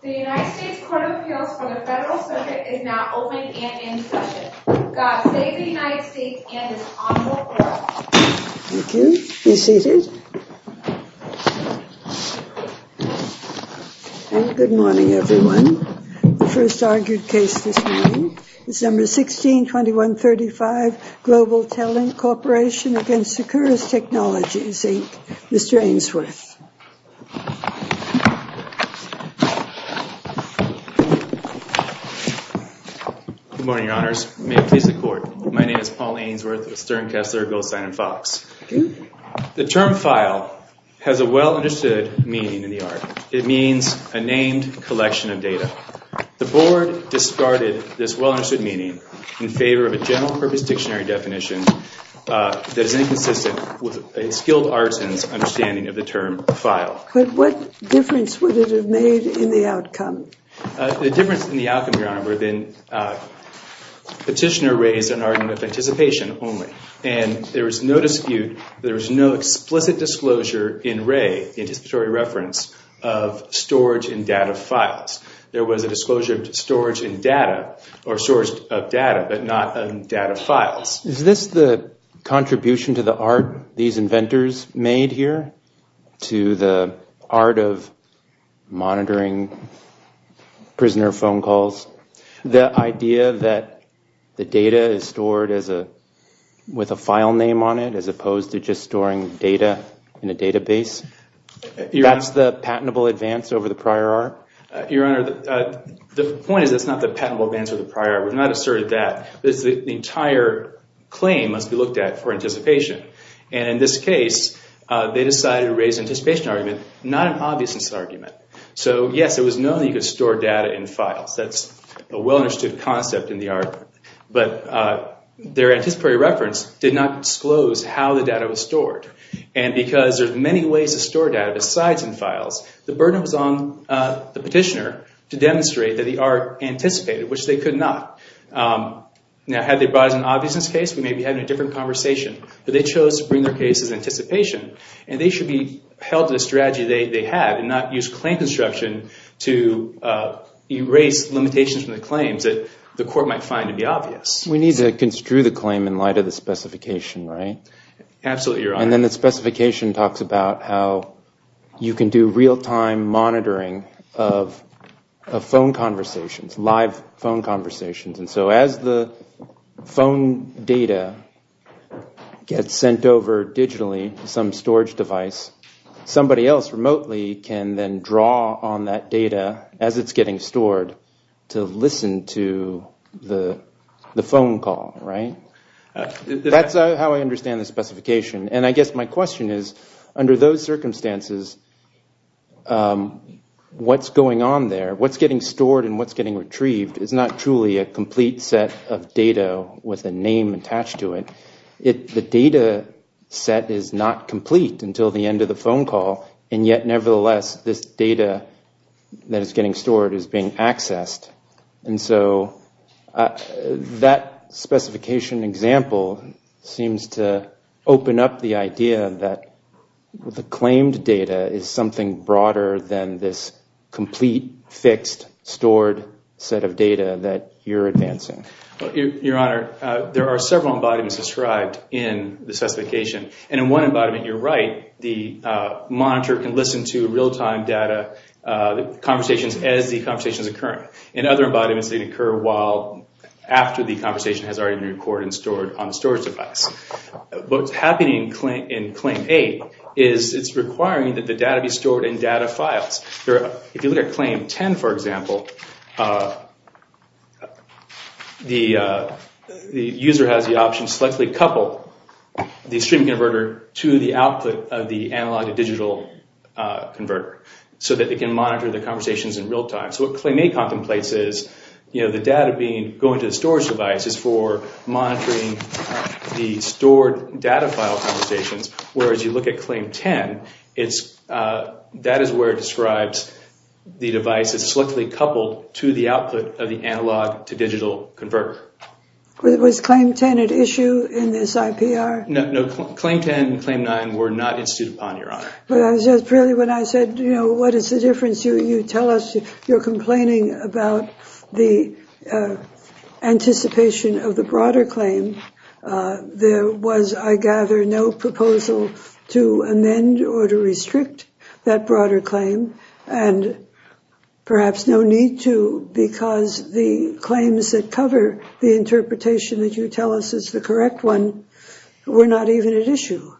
The United States Court of Appeals for the Federal Circuit is now open and in session. Good morning everyone. The first argued case this morning is No. 16-2135, Global TelLink Corporation v. Securus Technologies, Inc., Mr. Ainsworth. Good morning, Your Honors. May it please the Court, my name is Paul Ainsworth of Stern, Kessler, Goldstein, and Fox. The term file has a well-understood meaning in the art. It means a named collection of data. The Board discarded this well-understood meaning in favor of a general-purpose dictionary definition that is inconsistent with a skilled artisan's understanding of the term file. But what difference would it have made in the outcome? The difference in the outcome, Your Honor, would have been petitioner raised an argument of anticipation only. And there was no dispute, there was no explicit disclosure in Ray, the anticipatory reference, of storage and data files. There was a disclosure of storage and data, or storage of data, but not of data files. Is this the contribution to the art these inventors made here? To the art of monitoring prisoner phone calls? The idea that the data is stored with a file name on it as opposed to just storing data in a database? That's the patentable advance over the prior art? Your Honor, the point is that's not the patentable advance over the prior art. We've not asserted that. The entire claim must be looked at for anticipation. And in this case, they decided to raise an anticipation argument, not an obviousness argument. So, yes, it was known that you could store data in files. That's a well-understood concept in the art. But their anticipatory reference did not disclose how the data was stored. And because there's many ways to store data besides in files, the burden was on the petitioner to demonstrate that the art anticipated, which they could not. Now, had they brought it as an obviousness case, we may be having a different conversation. But they chose to bring their case as anticipation. And they should be held to the strategy they had and not use claim construction to erase limitations from the claims that the court might find to be obvious. We need to construe the claim in light of the specification, right? Absolutely, Your Honor. And then the specification talks about how you can do real-time monitoring of phone conversations, live phone conversations. And so as the phone data gets sent over digitally to some storage device, somebody else remotely can then draw on that data as it's getting stored to listen to the phone call, right? That's how I understand the specification. And I guess my question is, under those circumstances, what's going on there, what's getting stored and what's getting retrieved is not truly a complete set of data with a name attached to it. The data set is not complete until the end of the phone call. And yet, nevertheless, this data that is getting stored is being accessed. And so that specification example seems to open up the idea that the claimed data is something broader than this complete, fixed, stored set of data that you're advancing. Your Honor, there are several embodiments described in the specification. And in one embodiment, you're right, the monitor can listen to real-time data conversations as the conversation is occurring. In other embodiments, they can occur after the conversation has already been recorded and stored on the storage device. What's happening in Claim 8 is it's requiring that the data be stored in data files. If you look at Claim 10, for example, the user has the option to selectively couple the streaming converter to the output of the analog-to-digital converter so that they can monitor the conversations in real time. So what Claim 8 contemplates is the data going to the storage device is for monitoring the stored data file conversations. Whereas you look at Claim 10, that is where it describes the device is selectively coupled to the output of the analog-to-digital converter. Was Claim 10 at issue in this IPR? No, Claim 10 and Claim 9 were not instituted upon, Your Honor. When I said, you know, what is the difference? You tell us you're complaining about the anticipation of the broader claim. There was, I gather, no proposal to amend or to restrict that broader claim. And perhaps no need to because the claims that cover the interpretation that you tell us is the correct one were not even at issue.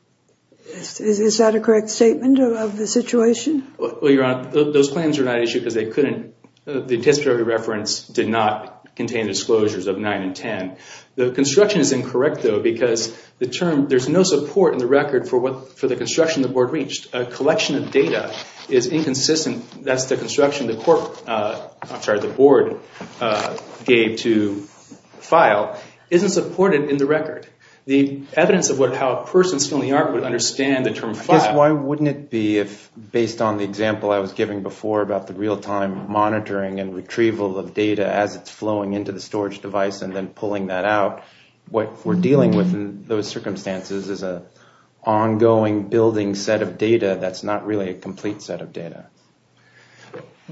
Is that a correct statement of the situation? Well, Your Honor, those claims were not at issue because they couldn't, the anticipatory reference did not contain disclosures of 9 and 10. The construction is incorrect, though, because the term, there's no support in the record for the construction the board reached. A collection of data is inconsistent. That's the construction the board gave to file isn't supported in the record. The evidence of how a person is still in the argument would understand the term file. I guess why wouldn't it be if, based on the example I was giving before about the real-time monitoring and retrieval of data as it's flowing into the storage device and then pulling that out, what we're dealing with in those circumstances is an ongoing building set of data that's not really a complete set of data.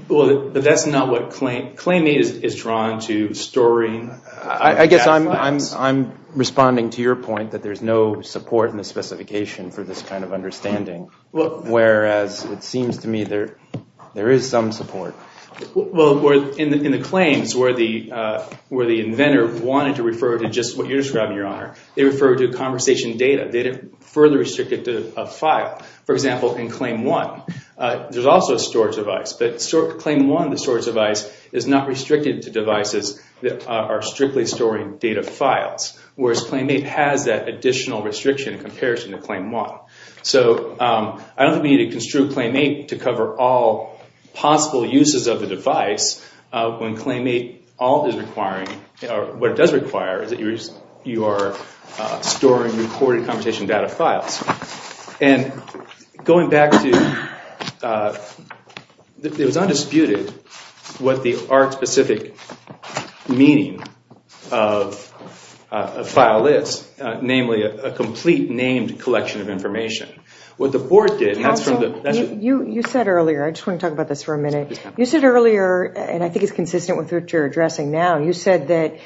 Well, but that's not what, Claim 8 is drawn to, storing. I guess I'm responding to your point that there's no support in the specification for this kind of understanding, whereas it seems to me there is some support. Well, in the claims where the inventor wanted to refer to just what you're describing, Your Honor, they referred to conversation data. They didn't further restrict it to a file. For example, in Claim 1, there's also a storage device, but Claim 1, the storage device, is not restricted to devices that are strictly storing data files, whereas Claim 8 has that additional restriction in comparison to Claim 1. So I don't think we need to construe Claim 8 to cover all possible uses of the device when Claim 8 all is requiring, or what it does require, is that you are storing recorded conversation data files. And going back to, it was undisputed what the art-specific meaning of a file is, namely a complete named collection of information. What the Board did, and that's from the- Counsel, you said earlier, I just want to talk about this for a minute, you said earlier, and I think it's consistent with what you're addressing now, you said that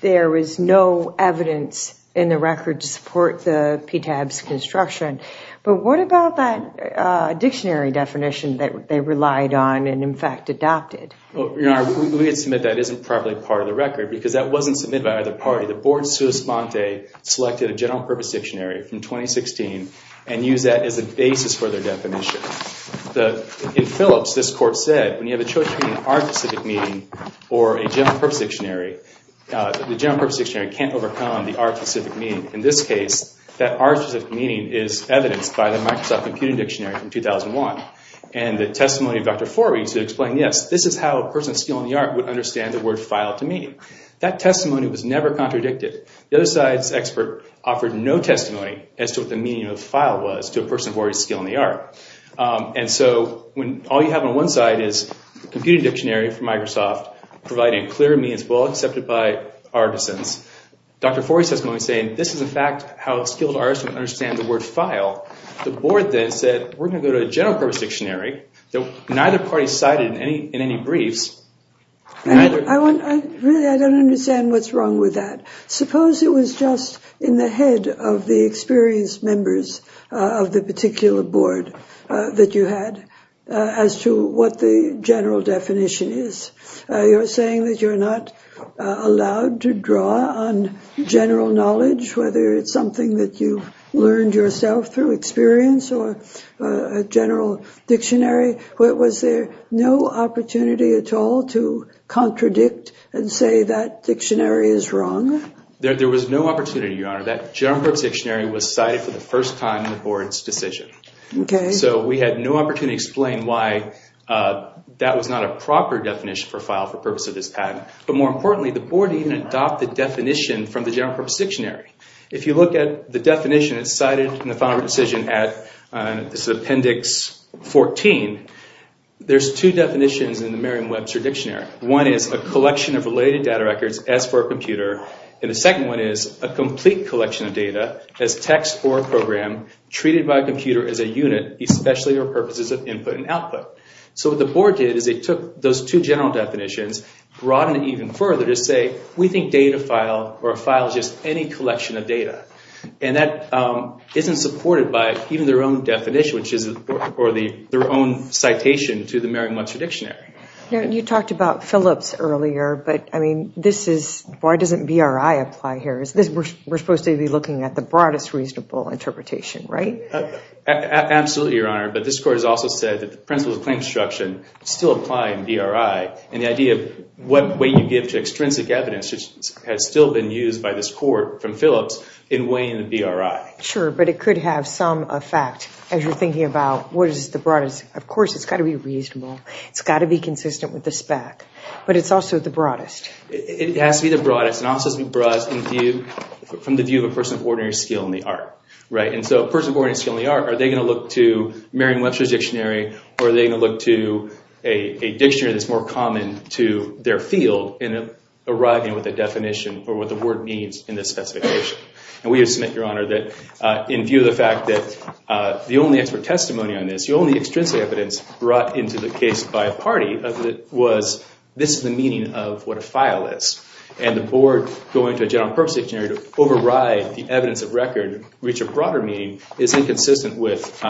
there is no evidence in the record to support the PTAB's construction. But what about that dictionary definition that they relied on and, in fact, adopted? Your Honor, we would submit that isn't properly part of the record because that wasn't submitted by either party. The Board, sua sponte, selected a general purpose dictionary from 2016 and used that as a basis for their definition. In Phillips, this court said, when you have a choice between an art-specific meaning or a general purpose dictionary, the general purpose dictionary can't overcome the art-specific meaning. In this case, that art-specific meaning is evidenced by the Microsoft Computing Dictionary from 2001. And the testimony of Dr. Forby to explain, yes, this is how a person of skill in the art would understand the word file to mean. That testimony was never contradicted. The other side's expert offered no testimony as to what the meaning of file was to a person of already skill in the art. And so all you have on one side is the Computing Dictionary from Microsoft providing clear means well accepted by artisans. Dr. Forby says, in a moment, this is, in fact, how a skilled artisan would understand the word file. The Board then said, we're going to go to a general purpose dictionary that neither party cited in any briefs. Really, I don't understand what's wrong with that. Suppose it was just in the head of the experienced members of the particular board that you had as to what the general definition is. You're saying that you're not allowed to draw on general knowledge, whether it's something that you learned yourself through experience or a general dictionary. Was there no opportunity at all to contradict and say that dictionary is wrong? There was no opportunity, Your Honor. That general purpose dictionary was cited for the first time in the Board's decision. So we had no opportunity to explain why that was not a proper definition for file for purpose of this patent. But more importantly, the Board even adopted the definition from the general purpose dictionary. If you look at the definition, it's cited in the final decision at appendix 14. There's two definitions in the Merriam-Webster dictionary. One is a collection of related data records as for a computer. And the second one is a complete collection of data as text or a program treated by a computer as a unit, especially for purposes of input and output. So what the Board did is it took those two general definitions, broadened it even further to say, we think data file or a file is just any collection of data. And that isn't supported by even their own definition or their own citation to the Merriam-Webster dictionary. You talked about Phillips earlier, but I mean, this is, why doesn't BRI apply here? We're supposed to be looking at the broadest reasonable interpretation, right? Absolutely, Your Honor. But this court has also said that the principles of claim construction still apply in BRI. And the idea of what weight you give to extrinsic evidence has still been used by this court from Phillips in weighing the BRI. Sure, but it could have some effect as you're thinking about what is the broadest. Of course, it's got to be reasonable. It's got to be consistent with the spec. But it's also the broadest. It has to be the broadest. And also it has to be the broadest from the view of a person of ordinary skill in the art. Right, and so a person of ordinary skill in the art, are they going to look to Merriam-Webster's dictionary? Or are they going to look to a dictionary that's more common to their field in arriving with a definition or what the word means in this specification? And we have submitted, Your Honor, that in view of the fact that the only expert testimony on this, the only extrinsic evidence brought into the case by a party of it was this is the meaning of what a file is. And the board going to a general purpose dictionary to override the evidence of record, reach a broader meaning, is inconsistent with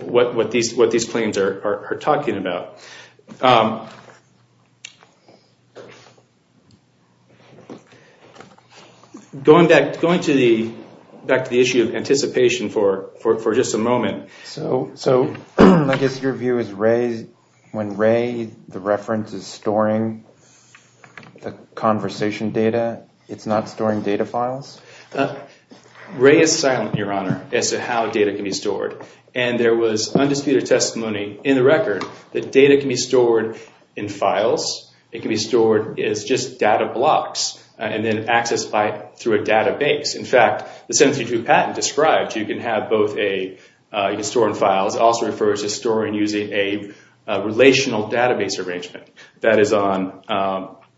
what these claims are talking about. Going back to the issue of anticipation for just a moment. So I guess your view is when RAE, the reference is storing the conversation data, it's not storing data files? RAE is silent, Your Honor, as to how data can be stored. And there was undisputed testimony in the record that data can be stored in files. It can be stored as just data blocks and then accessed through a database. In fact, the 732 patent describes you can have both a, you can store in files. It also refers to storing using a relational database arrangement. That is on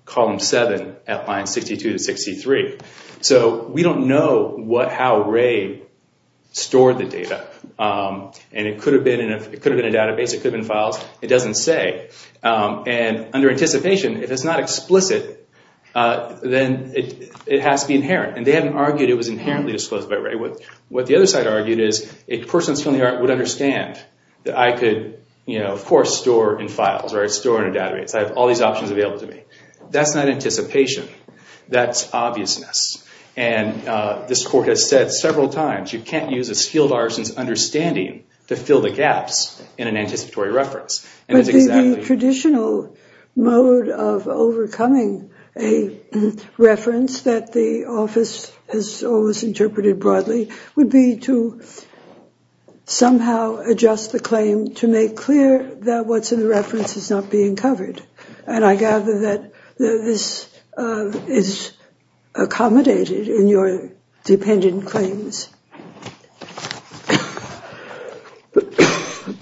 column 7 at line 62 to 63. So we don't know how RAE stored the data. And it could have been a database, it could have been files. It doesn't say. And under anticipation, if it's not explicit, then it has to be inherent. And they haven't argued it was inherently disclosed by RAE. What the other side argued is a person's family would understand that I could, of course, store in files or store in a database. I have all these options available to me. That's not anticipation. That's obviousness. And this Court has said several times you can't use a skilled artisan's understanding to fill the gaps in an anticipatory reference. But the traditional mode of overcoming a reference that the office has always interpreted broadly would be to somehow adjust the claim to make clear that what's in the reference is not being covered. And I gather that this is accommodated in your dependent claims.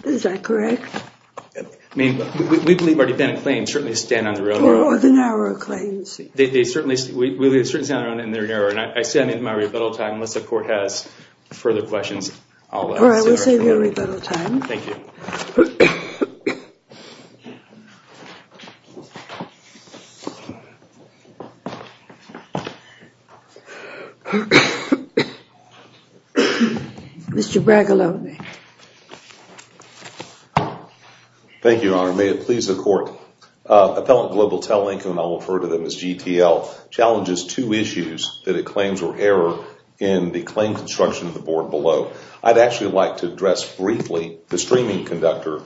Is that correct? I mean, we believe our dependent claims certainly stand on their own. Or the narrow claims. They certainly stand on their own and they're narrow. And I stand in my rebuttal time unless the Court has further questions. All right, we'll save you rebuttal time. Thank you. Mr. Bragalove. Thank you, Your Honor. May it please the Court. Appellant Globaltelling, whom I will refer to as GTL, challenges two issues that it claims were error in the claim construction of the board below. I'd actually like to address briefly the streaming converter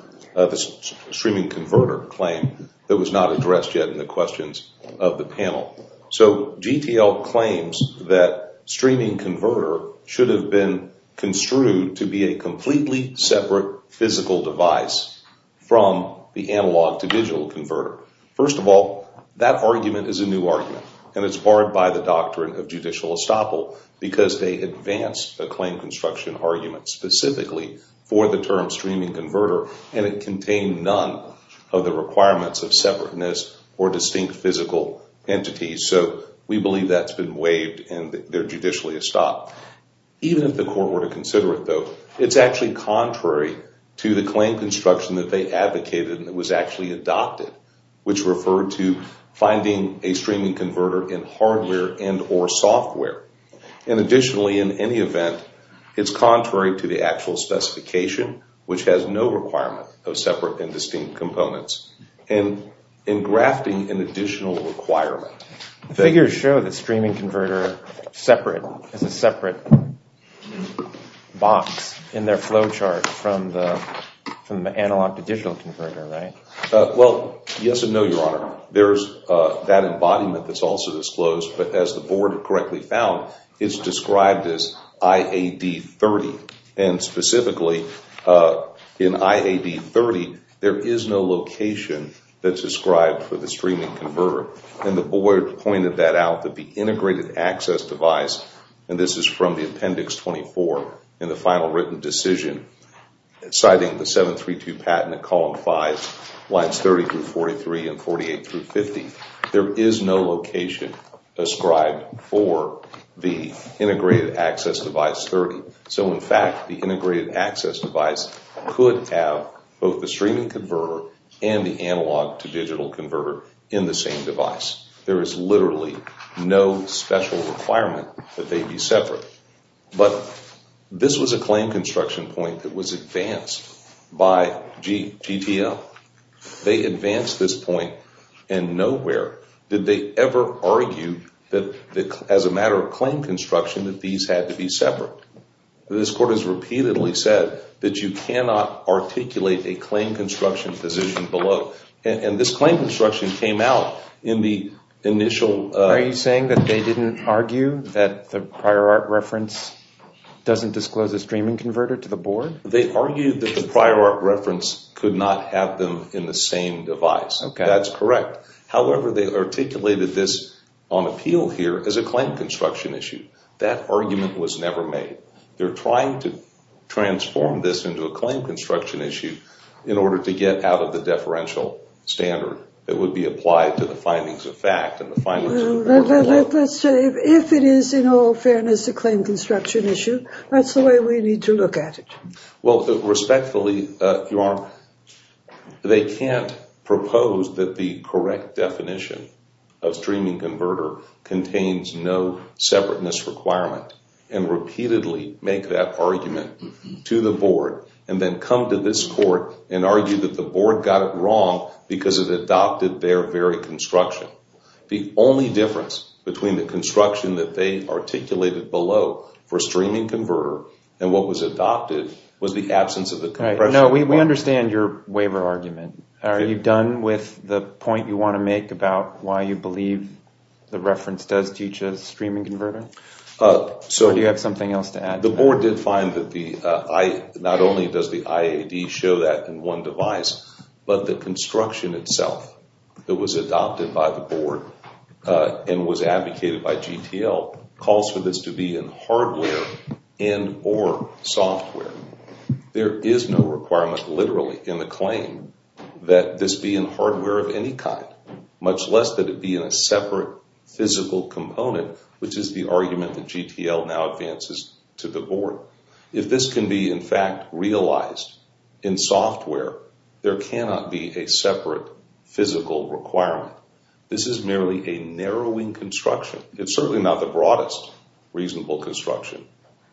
claim that was not addressed yet in the questions of the panel. So GTL claims that streaming converter should have been construed to be a completely separate physical device from the analog to digital converter. First of all, that argument is a new argument. And it's barred by the doctrine of judicial estoppel because they advanced a claim construction argument specifically for the term streaming converter. And it contained none of the requirements of separateness or distinct physical entities. So we believe that's been waived and they're judicially estopped. Even if the Court were to consider it, though, it's actually contrary to the claim construction that they advocated and that was actually adopted, which referred to finding a streaming converter in hardware and or software. And additionally, in any event, it's contrary to the actual specification, which has no requirement of separate and distinct components, and in grafting an additional requirement. The figures show the streaming converter separate, as a separate box in their flow chart from the analog to digital converter, right? Well, yes and no, Your Honor. There's that embodiment that's also disclosed, but as the Board correctly found, it's described as IAD 30. And specifically, in IAD 30, there is no location that's described for the streaming converter. And the Board pointed that out, that the integrated access device, and this is from the Appendix 24 in the final written decision, citing the 732 patent at column 5, lines 30 through 43 and 48 through 50. There is no location ascribed for the integrated access device 30. So, in fact, the integrated access device could have both the streaming converter and the analog to digital converter in the same device. There is literally no special requirement that they be separate. But this was a claim construction point that was advanced by GTL. They advanced this point, and nowhere did they ever argue that, as a matter of claim construction, that these had to be separate. This Court has repeatedly said that you cannot articulate a claim construction position below. And this claim construction came out in the initial… …doesn't disclose a streaming converter to the Board? They argued that the prior art reference could not have them in the same device. That's correct. However, they articulated this on appeal here as a claim construction issue. That argument was never made. They're trying to transform this into a claim construction issue in order to get out of the deferential standard that would be applied to the findings of fact and the findings of the Board… If it is, in all fairness, a claim construction issue, that's the way we need to look at it. Well, respectfully, Your Honor, they can't propose that the correct definition of streaming converter contains no separateness requirement and repeatedly make that argument to the Board and then come to this Court and argue that the Board got it wrong because it adopted their very construction. The only difference between the construction that they articulated below for streaming converter and what was adopted was the absence of the compression requirement. No, we understand your waiver argument. Are you done with the point you want to make about why you believe the reference does teach a streaming converter? Do you have something else to add to that? The Board did find that not only does the IAD show that in one device, but the construction itself that was adopted by the Board and was advocated by GTL calls for this to be in hardware and or software. There is no requirement literally in the claim that this be in hardware of any kind, much less that it be in a separate physical component, which is the argument that GTL now advances to the Board. If this can be, in fact, realized in software, there cannot be a separate physical requirement. This is merely a narrowing construction. It's certainly not the broadest reasonable construction.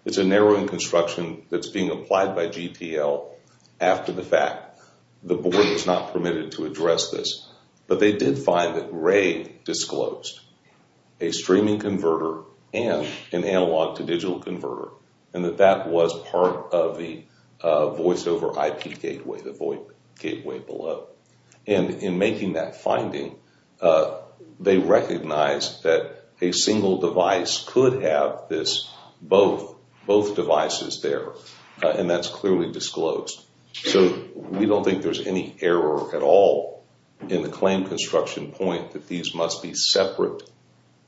It's a narrowing construction that's being applied by GTL after the fact. The Board was not permitted to address this, but they did find that Ray disclosed a streaming converter and an analog-to-digital converter and that that was part of the voice-over IP gateway, the VoIP gateway below. And in making that finding, they recognized that a single device could have this, both devices there, and that's clearly disclosed. So we don't think there's any error at all in the claim construction point that these must be separate.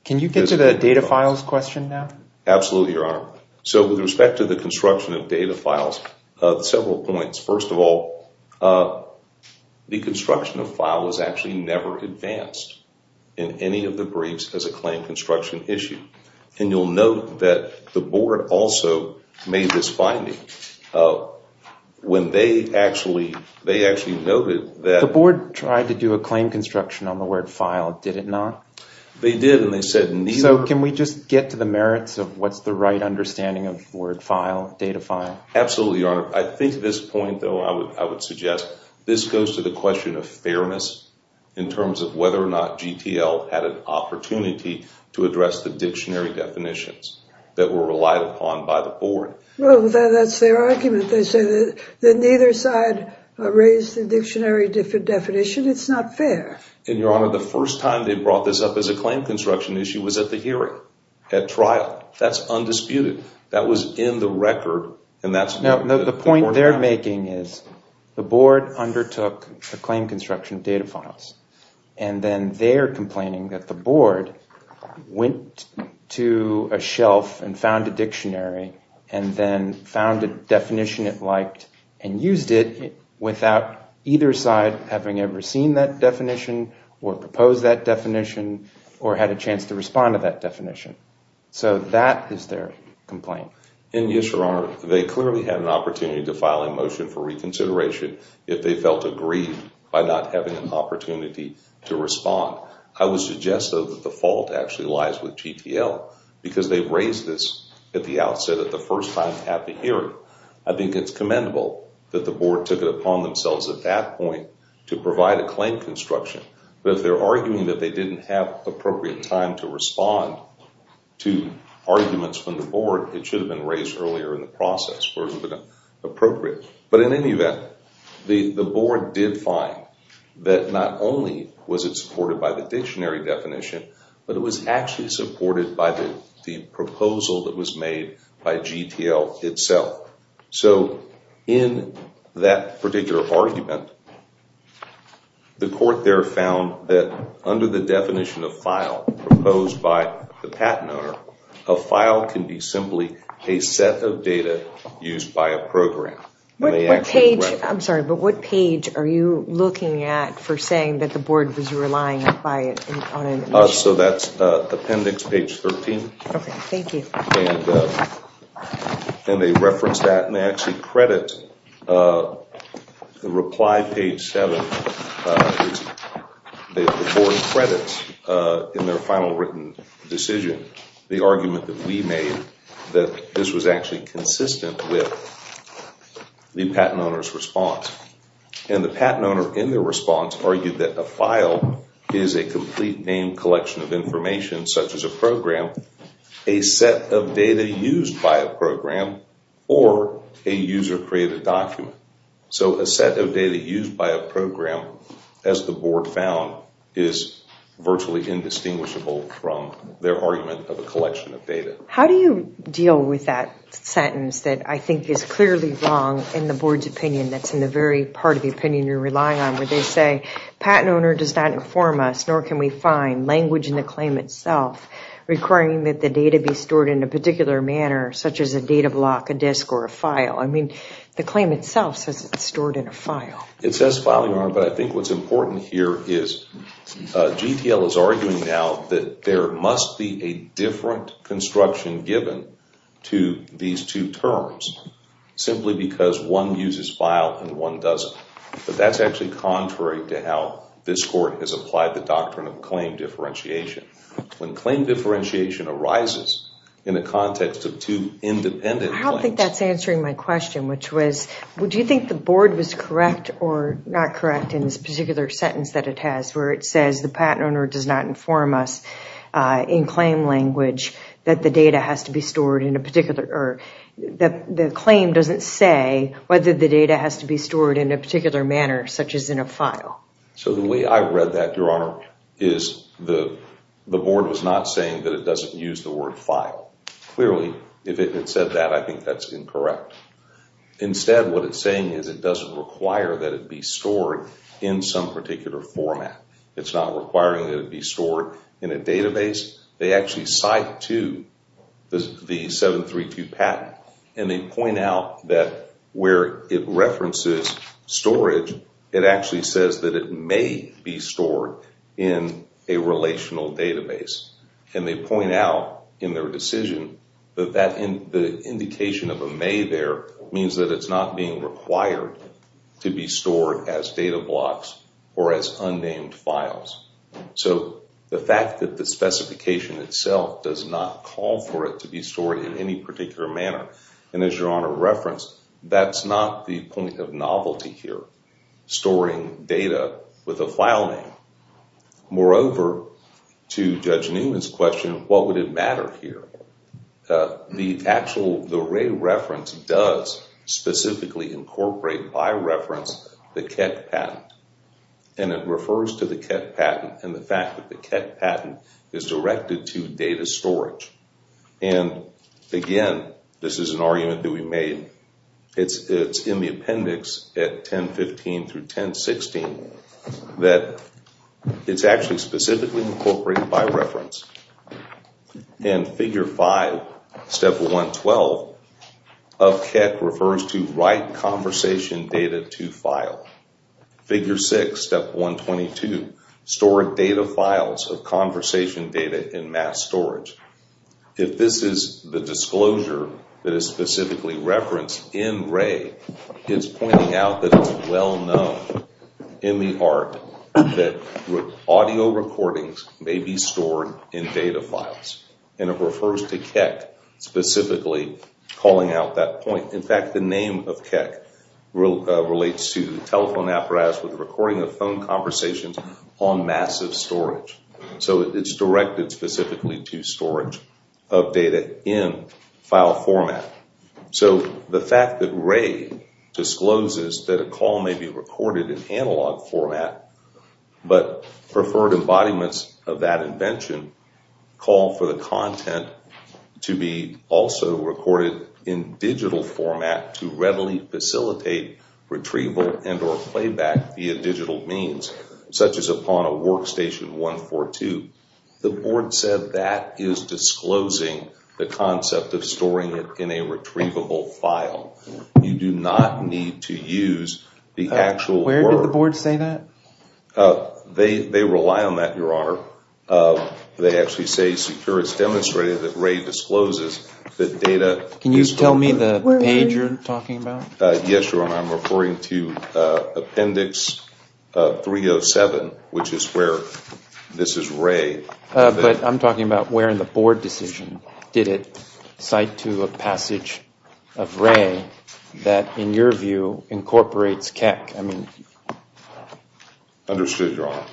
Can you get to the data files question now? Absolutely, Your Honor. So with respect to the construction of data files, several points. First of all, the construction of file was actually never advanced in any of the briefs as a claim construction issue. And you'll note that the Board also made this finding. When they actually noted that— The Board tried to do a claim construction on the word file, did it not? They did, and they said neither— So can we just get to the merits of what's the right understanding of the word file, data file? Absolutely, Your Honor. I think at this point, though, I would suggest this goes to the question of fairness in terms of whether or not GTL had an opportunity to address the dictionary definitions that were relied upon by the Board. Well, that's their argument. They say that neither side raised the dictionary definition. It's not fair. And, Your Honor, the first time they brought this up as a claim construction issue was at the hearing, at trial. That's undisputed. That was in the record, and that's— No, the point they're making is the Board undertook the claim construction of data files, and then they're complaining that the Board went to a shelf and found a dictionary and then found a definition it liked and used it without either side having ever seen that definition or proposed that definition or had a chance to respond to that definition. So that is their complaint. And, yes, Your Honor, they clearly had an opportunity to file a motion for reconsideration if they felt agreed by not having an opportunity to respond. I would suggest, though, that the fault actually lies with GTL because they raised this at the outset at the first time at the hearing. I think it's commendable that the Board took it upon themselves at that point to provide a claim construction. But if they're arguing that they didn't have appropriate time to respond to arguments from the Board, it should have been raised earlier in the process where it would have been appropriate. But in any event, the Board did find that not only was it supported by the dictionary definition, but it was actually supported by the proposal that was made by GTL itself. So in that particular argument, the court there found that under the definition of file proposed by the patent owner, a file can be simply a set of data used by a program. I'm sorry, but what page are you looking at for saying that the Board was relying on it? So that's appendix page 13. Okay, thank you. And they reference that and they actually credit the reply page 7. The Board credits in their final written decision the argument that we made that this was actually consistent with the patent owner's response. And the patent owner in their response argued that a file is a complete name collection of information, such as a program, a set of data used by a program, or a user-created document. So a set of data used by a program, as the Board found, is virtually indistinguishable from their argument of a collection of data. How do you deal with that sentence that I think is clearly wrong in the Board's opinion, that's in the very part of the opinion you're relying on, where they say, patent owner does not inform us, nor can we find language in the claim itself, requiring that the data be stored in a particular manner, such as a data block, a disk, or a file. I mean, the claim itself says it's stored in a file. It says file, Your Honor, but I think what's important here is GTL is arguing now that there must be a different construction given to these two terms, simply because one uses file and one doesn't. But that's actually contrary to how this Court has applied the doctrine of claim differentiation. When claim differentiation arises in the context of two independent claims… I don't think that's answering my question, which was, would you think the Board was correct or not correct in this particular sentence that it has, where it says the patent owner does not inform us in claim language that the claim doesn't say whether the data has to be stored in a particular manner, such as in a file? So the way I read that, Your Honor, is the Board was not saying that it doesn't use the word file. Clearly, if it had said that, I think that's incorrect. Instead, what it's saying is it doesn't require that it be stored in some particular format. It's not requiring that it be stored in a database. They actually cite to the 732 patent, and they point out that where it references storage, it actually says that it may be stored in a relational database. And they point out in their decision that the indication of a may there means that it's not being required to be stored as data blocks or as unnamed files. So the fact that the specification itself does not call for it to be stored in any particular manner, and as Your Honor referenced, that's not the point of novelty here, storing data with a file name. Moreover, to Judge Newman's question, what would it matter here? The array reference does specifically incorporate, by reference, the Kett patent. And it refers to the Kett patent and the fact that the Kett patent is directed to data storage. And again, this is an argument that we made. It's in the appendix at 10.15 through 10.16 that it's actually specifically incorporated by reference. And Figure 5, Step 112 of Kett refers to write conversation data to file. Figure 6, Step 122, store data files of conversation data in mass storage. If this is the disclosure that is specifically referenced in Ray, it's pointing out that it's well known in the art that audio recordings may be stored in data files. And it refers to Keck specifically calling out that point. In fact, the name of Keck relates to telephone apparatus with recording of phone conversations on massive storage. So it's directed specifically to storage of data in file format. So the fact that Ray discloses that a call may be recorded in analog format, but preferred embodiments of that invention call for the content to be also recorded in digital format to readily facilitate retrieval and or playback via digital means, such as upon a workstation 142. The board said that is disclosing the concept of storing it in a retrievable file. You do not need to use the actual word. Where did the board say that? They rely on that, Your Honor. They actually say secure. It's demonstrated that Ray discloses the data. Can you tell me the page you're talking about? Yes, Your Honor, I'm referring to Appendix 307, which is where this is Ray. But I'm talking about where in the board decision did it cite to a passage of Ray that, in your view, incorporates Keck. Understood, Your Honor.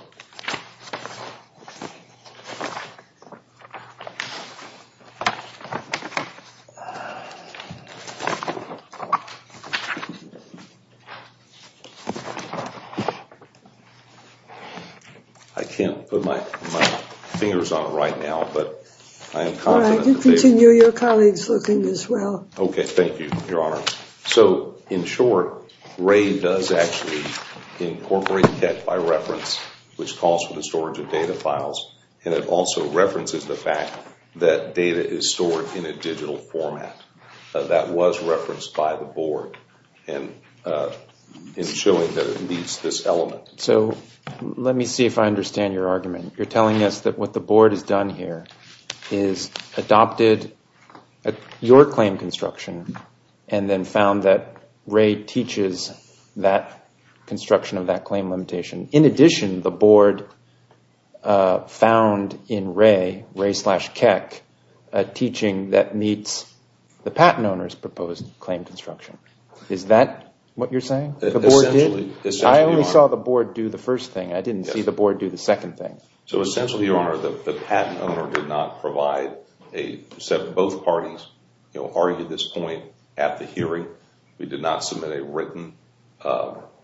I can't put my fingers on it right now, but I am confident. You can continue your colleagues looking as well. Okay, thank you, Your Honor. So, in short, Ray does actually incorporate Keck by reference, which calls for the storage of data files, and it also references the fact that data is stored in a digital format. That was referenced by the board in showing that it meets this element. So let me see if I understand your argument. You're telling us that what the board has done here is adopted your claim construction and then found that Ray teaches that construction of that claim limitation. In addition, the board found in Ray, Ray slash Keck, a teaching that meets the patent owner's proposed claim construction. Is that what you're saying? Essentially. I only saw the board do the first thing. I didn't see the board do the second thing. So essentially, Your Honor, the patent owner did not provide a set of both parties argued this point at the hearing. We did not submit a written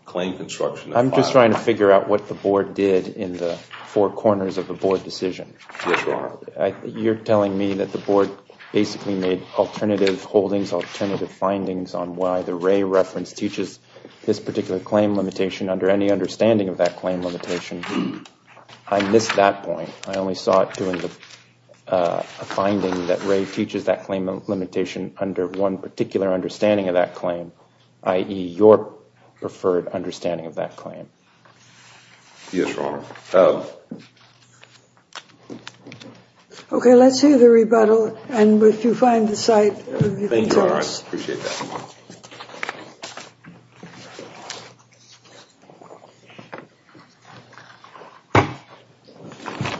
claim construction. I'm just trying to figure out what the board did in the four corners of the board decision. Yes, Your Honor. You're telling me that the board basically made alternative holdings, on why the Ray reference teaches this particular claim limitation under any understanding of that claim limitation. I missed that point. I only saw it during the finding that Ray teaches that claim limitation under one particular understanding of that claim, i.e. your preferred understanding of that claim. Yes, Your Honor. OK, let's hear the rebuttal. And if you find the site, you can tell us. Thank you, Your Honor. I appreciate that.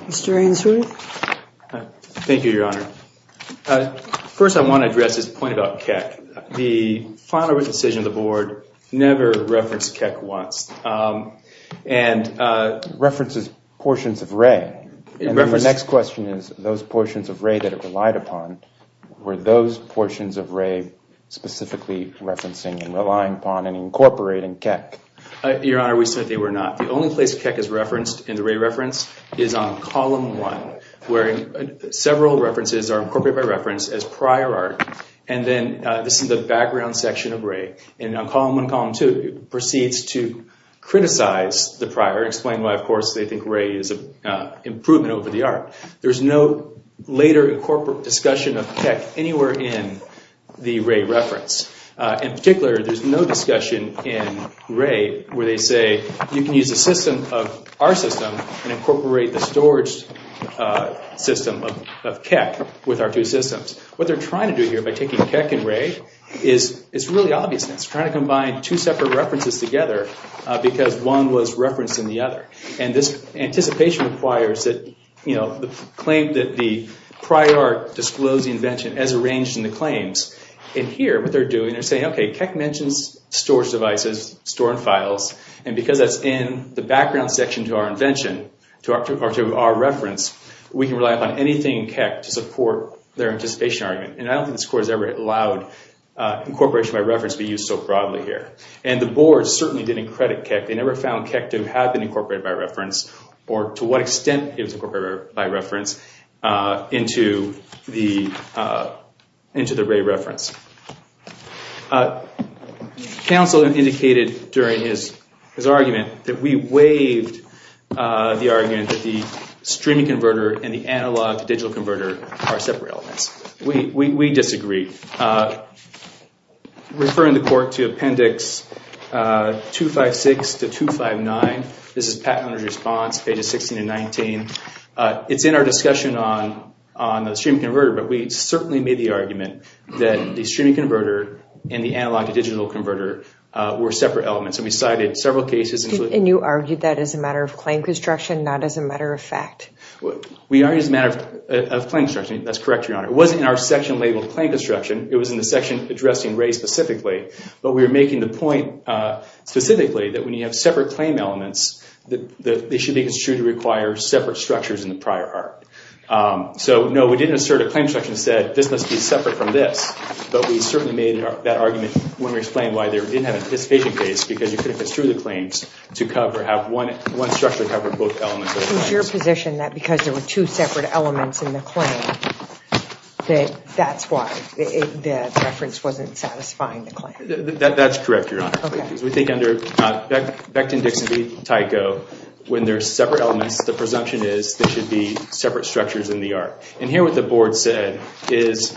Mr. Ainsworth. Thank you, Your Honor. First, I want to address this point about Keck. The final written decision of the board never referenced Keck once and references portions of Ray. The next question is, those portions of Ray that it relied upon, were those portions of Ray specifically referencing and relying upon and incorporating Keck? Your Honor, we said they were not. The only place Keck is referenced in the Ray reference is on Column 1, where several references are incorporated by reference as prior art. And then this is the background section of Ray. And on Column 1 and Column 2, it proceeds to criticize the prior, explaining why, of course, they think Ray is an improvement over the art. There's no later incorporated discussion of Keck anywhere in the Ray reference. In particular, there's no discussion in Ray where they say, you can use the system of our system and incorporate the storage system of Keck with our two systems. What they're trying to do here by taking Keck and Ray is really obvious. They're trying to combine two separate references together because one was referenced in the other. And this anticipation requires the claim that the prior disclosed the invention as arranged in the claims. And here, what they're doing, they're saying, okay, Keck mentions storage devices, storing files, and because that's in the background section to our invention, to our reference, we can rely upon anything in Keck to support their anticipation argument. And I don't think this court has ever allowed incorporation by reference to be used so broadly here. And the board certainly didn't credit Keck. They never found Keck to have been incorporated by reference or to what extent it was incorporated by reference into the Ray reference. Counsel indicated during his argument that we waived the argument that the streaming converter and the analog-to-digital converter are separate elements. We disagree. Referring the court to Appendix 256 to 259, this is Pat Hunter's response, pages 16 and 19. It's in our discussion on the streaming converter, but we certainly made the argument that the streaming converter and the analog-to-digital converter were separate elements, and we cited several cases. And you argued that as a matter of claim construction, not as a matter of fact? We argued as a matter of claim construction. That's correct, Your Honor. It wasn't in our section labeled claim construction. It was in the section addressing Ray specifically, but we were making the point specifically that when you have separate claim elements, they should be construed to require separate structures in the prior art. So, no, we didn't assert a claim construction that said this must be separate from this, but we certainly made that argument when we explained why there didn't have an anticipation case because you could have construed the claims to have one structure cover both elements. So, it was your position that because there were two separate elements in the claim, that that's why the reference wasn't satisfying the claim? That's correct, Your Honor. Okay. Because we think under Becton-Dixon v. Tyco, when there's separate elements, the presumption is there should be separate structures in the art. And here what the board said is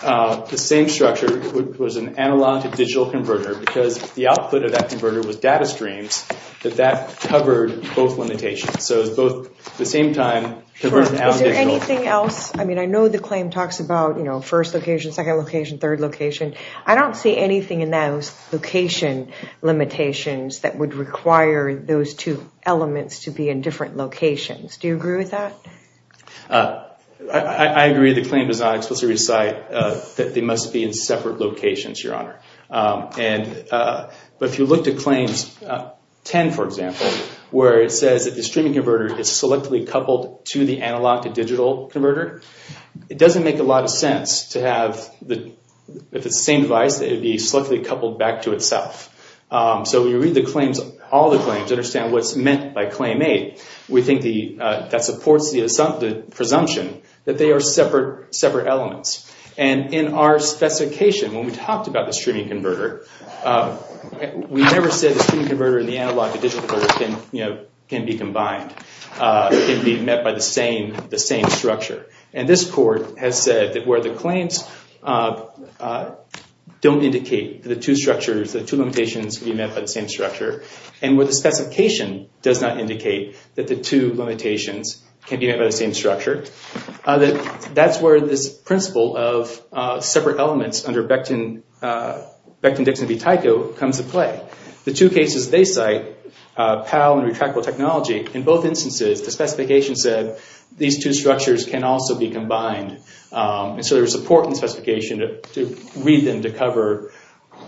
the same structure was an analog-to-digital converter because the output of that converter was data streams, that that covered both limitations. So, it was both at the same time converted analog-to-digital. Is there anything else? I mean, I know the claim talks about, you know, first location, second location, third location. I don't see anything in those location limitations that would require those two elements to be in different locations. Do you agree with that? I agree the claim does not explicitly recite that they must be in separate locations, Your Honor. But if you look to Claims 10, for example, where it says that the streaming converter is selectively coupled to the analog-to-digital converter, it doesn't make a lot of sense to have the same device that would be selectively coupled back to itself. So, when you read all the claims, understand what's meant by Claim 8, we think that supports the presumption that they are separate elements. And in our specification, when we talked about the streaming converter, we never said the streaming converter and the analog-to-digital converter can be combined, can be met by the same structure. And this Court has said that where the claims don't indicate the two structures, the two limitations can be met by the same structure, and where the specification does not indicate that the two limitations can be met by the same structure, that's where this principle of separate elements under Becton-Dixon v. Tyco comes into play. The two cases they cite, PAL and retractable technology, in both instances, the specification said these two structures can also be combined. And so there was support in the specification to read them to cover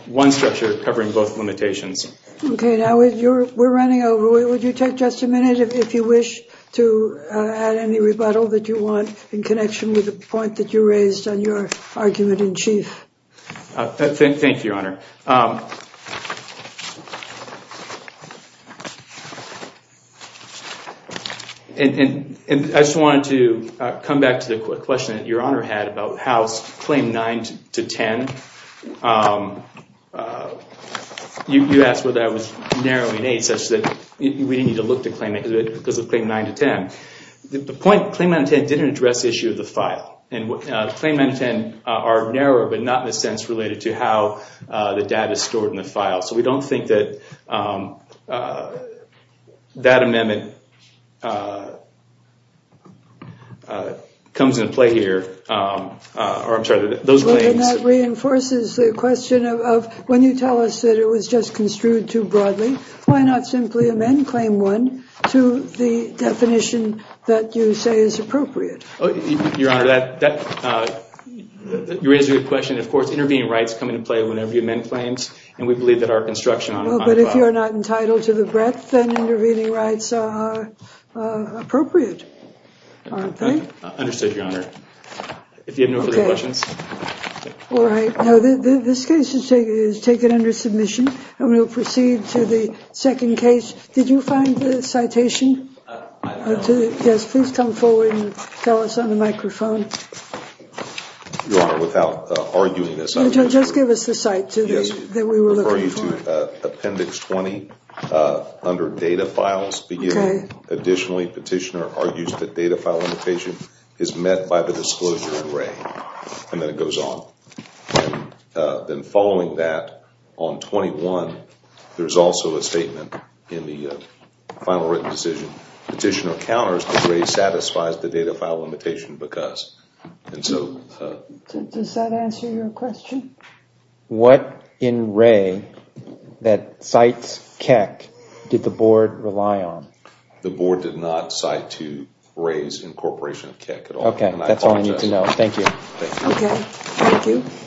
one structure covering both limitations. Okay, now we're running over. Would you take just a minute if you wish to add any rebuttal that you want in connection with the point that you raised on your argument in chief? Thank you, Your Honor. I just wanted to come back to the question that Your Honor had about House Claim 9 to 10. You asked whether that was narrowing aid such that we didn't need to look to claim it because of Claim 9 to 10. The point of Claim 9 to 10 didn't address the issue of the file. And Claim 9 to 10 are narrower but not in a sense related to how the data is stored in the file. So we don't think that that amendment comes into play here. And that reinforces the question of when you tell us that it was just construed too broadly, why not simply amend Claim 1 to the definition that you say is appropriate? Your Honor, you raise a good question. Of course, intervening rights come into play whenever you amend claims. And we believe that our construction on the file. But if you're not entitled to the breadth, then intervening rights are appropriate, aren't they? Understood, Your Honor. If you have no further questions. All right. This case is taken under submission. I'm going to proceed to the second case. Did you find the citation? Yes, please come forward and tell us on the microphone. Your Honor, without arguing this, I would just give us the site that we were looking for. Appendix 20 under data files. Additionally, petitioner argues that data file limitation is met by the disclosure in Wray. And then it goes on. Then following that, on 21, there's also a statement in the final written decision. Petitioner counters that Wray satisfies the data file limitation because. Does that answer your question? What in Wray that cites Keck did the board rely on? The board did not cite to Wray's incorporation of Keck at all. Okay, that's all I need to know. Thank you. Okay, thank you.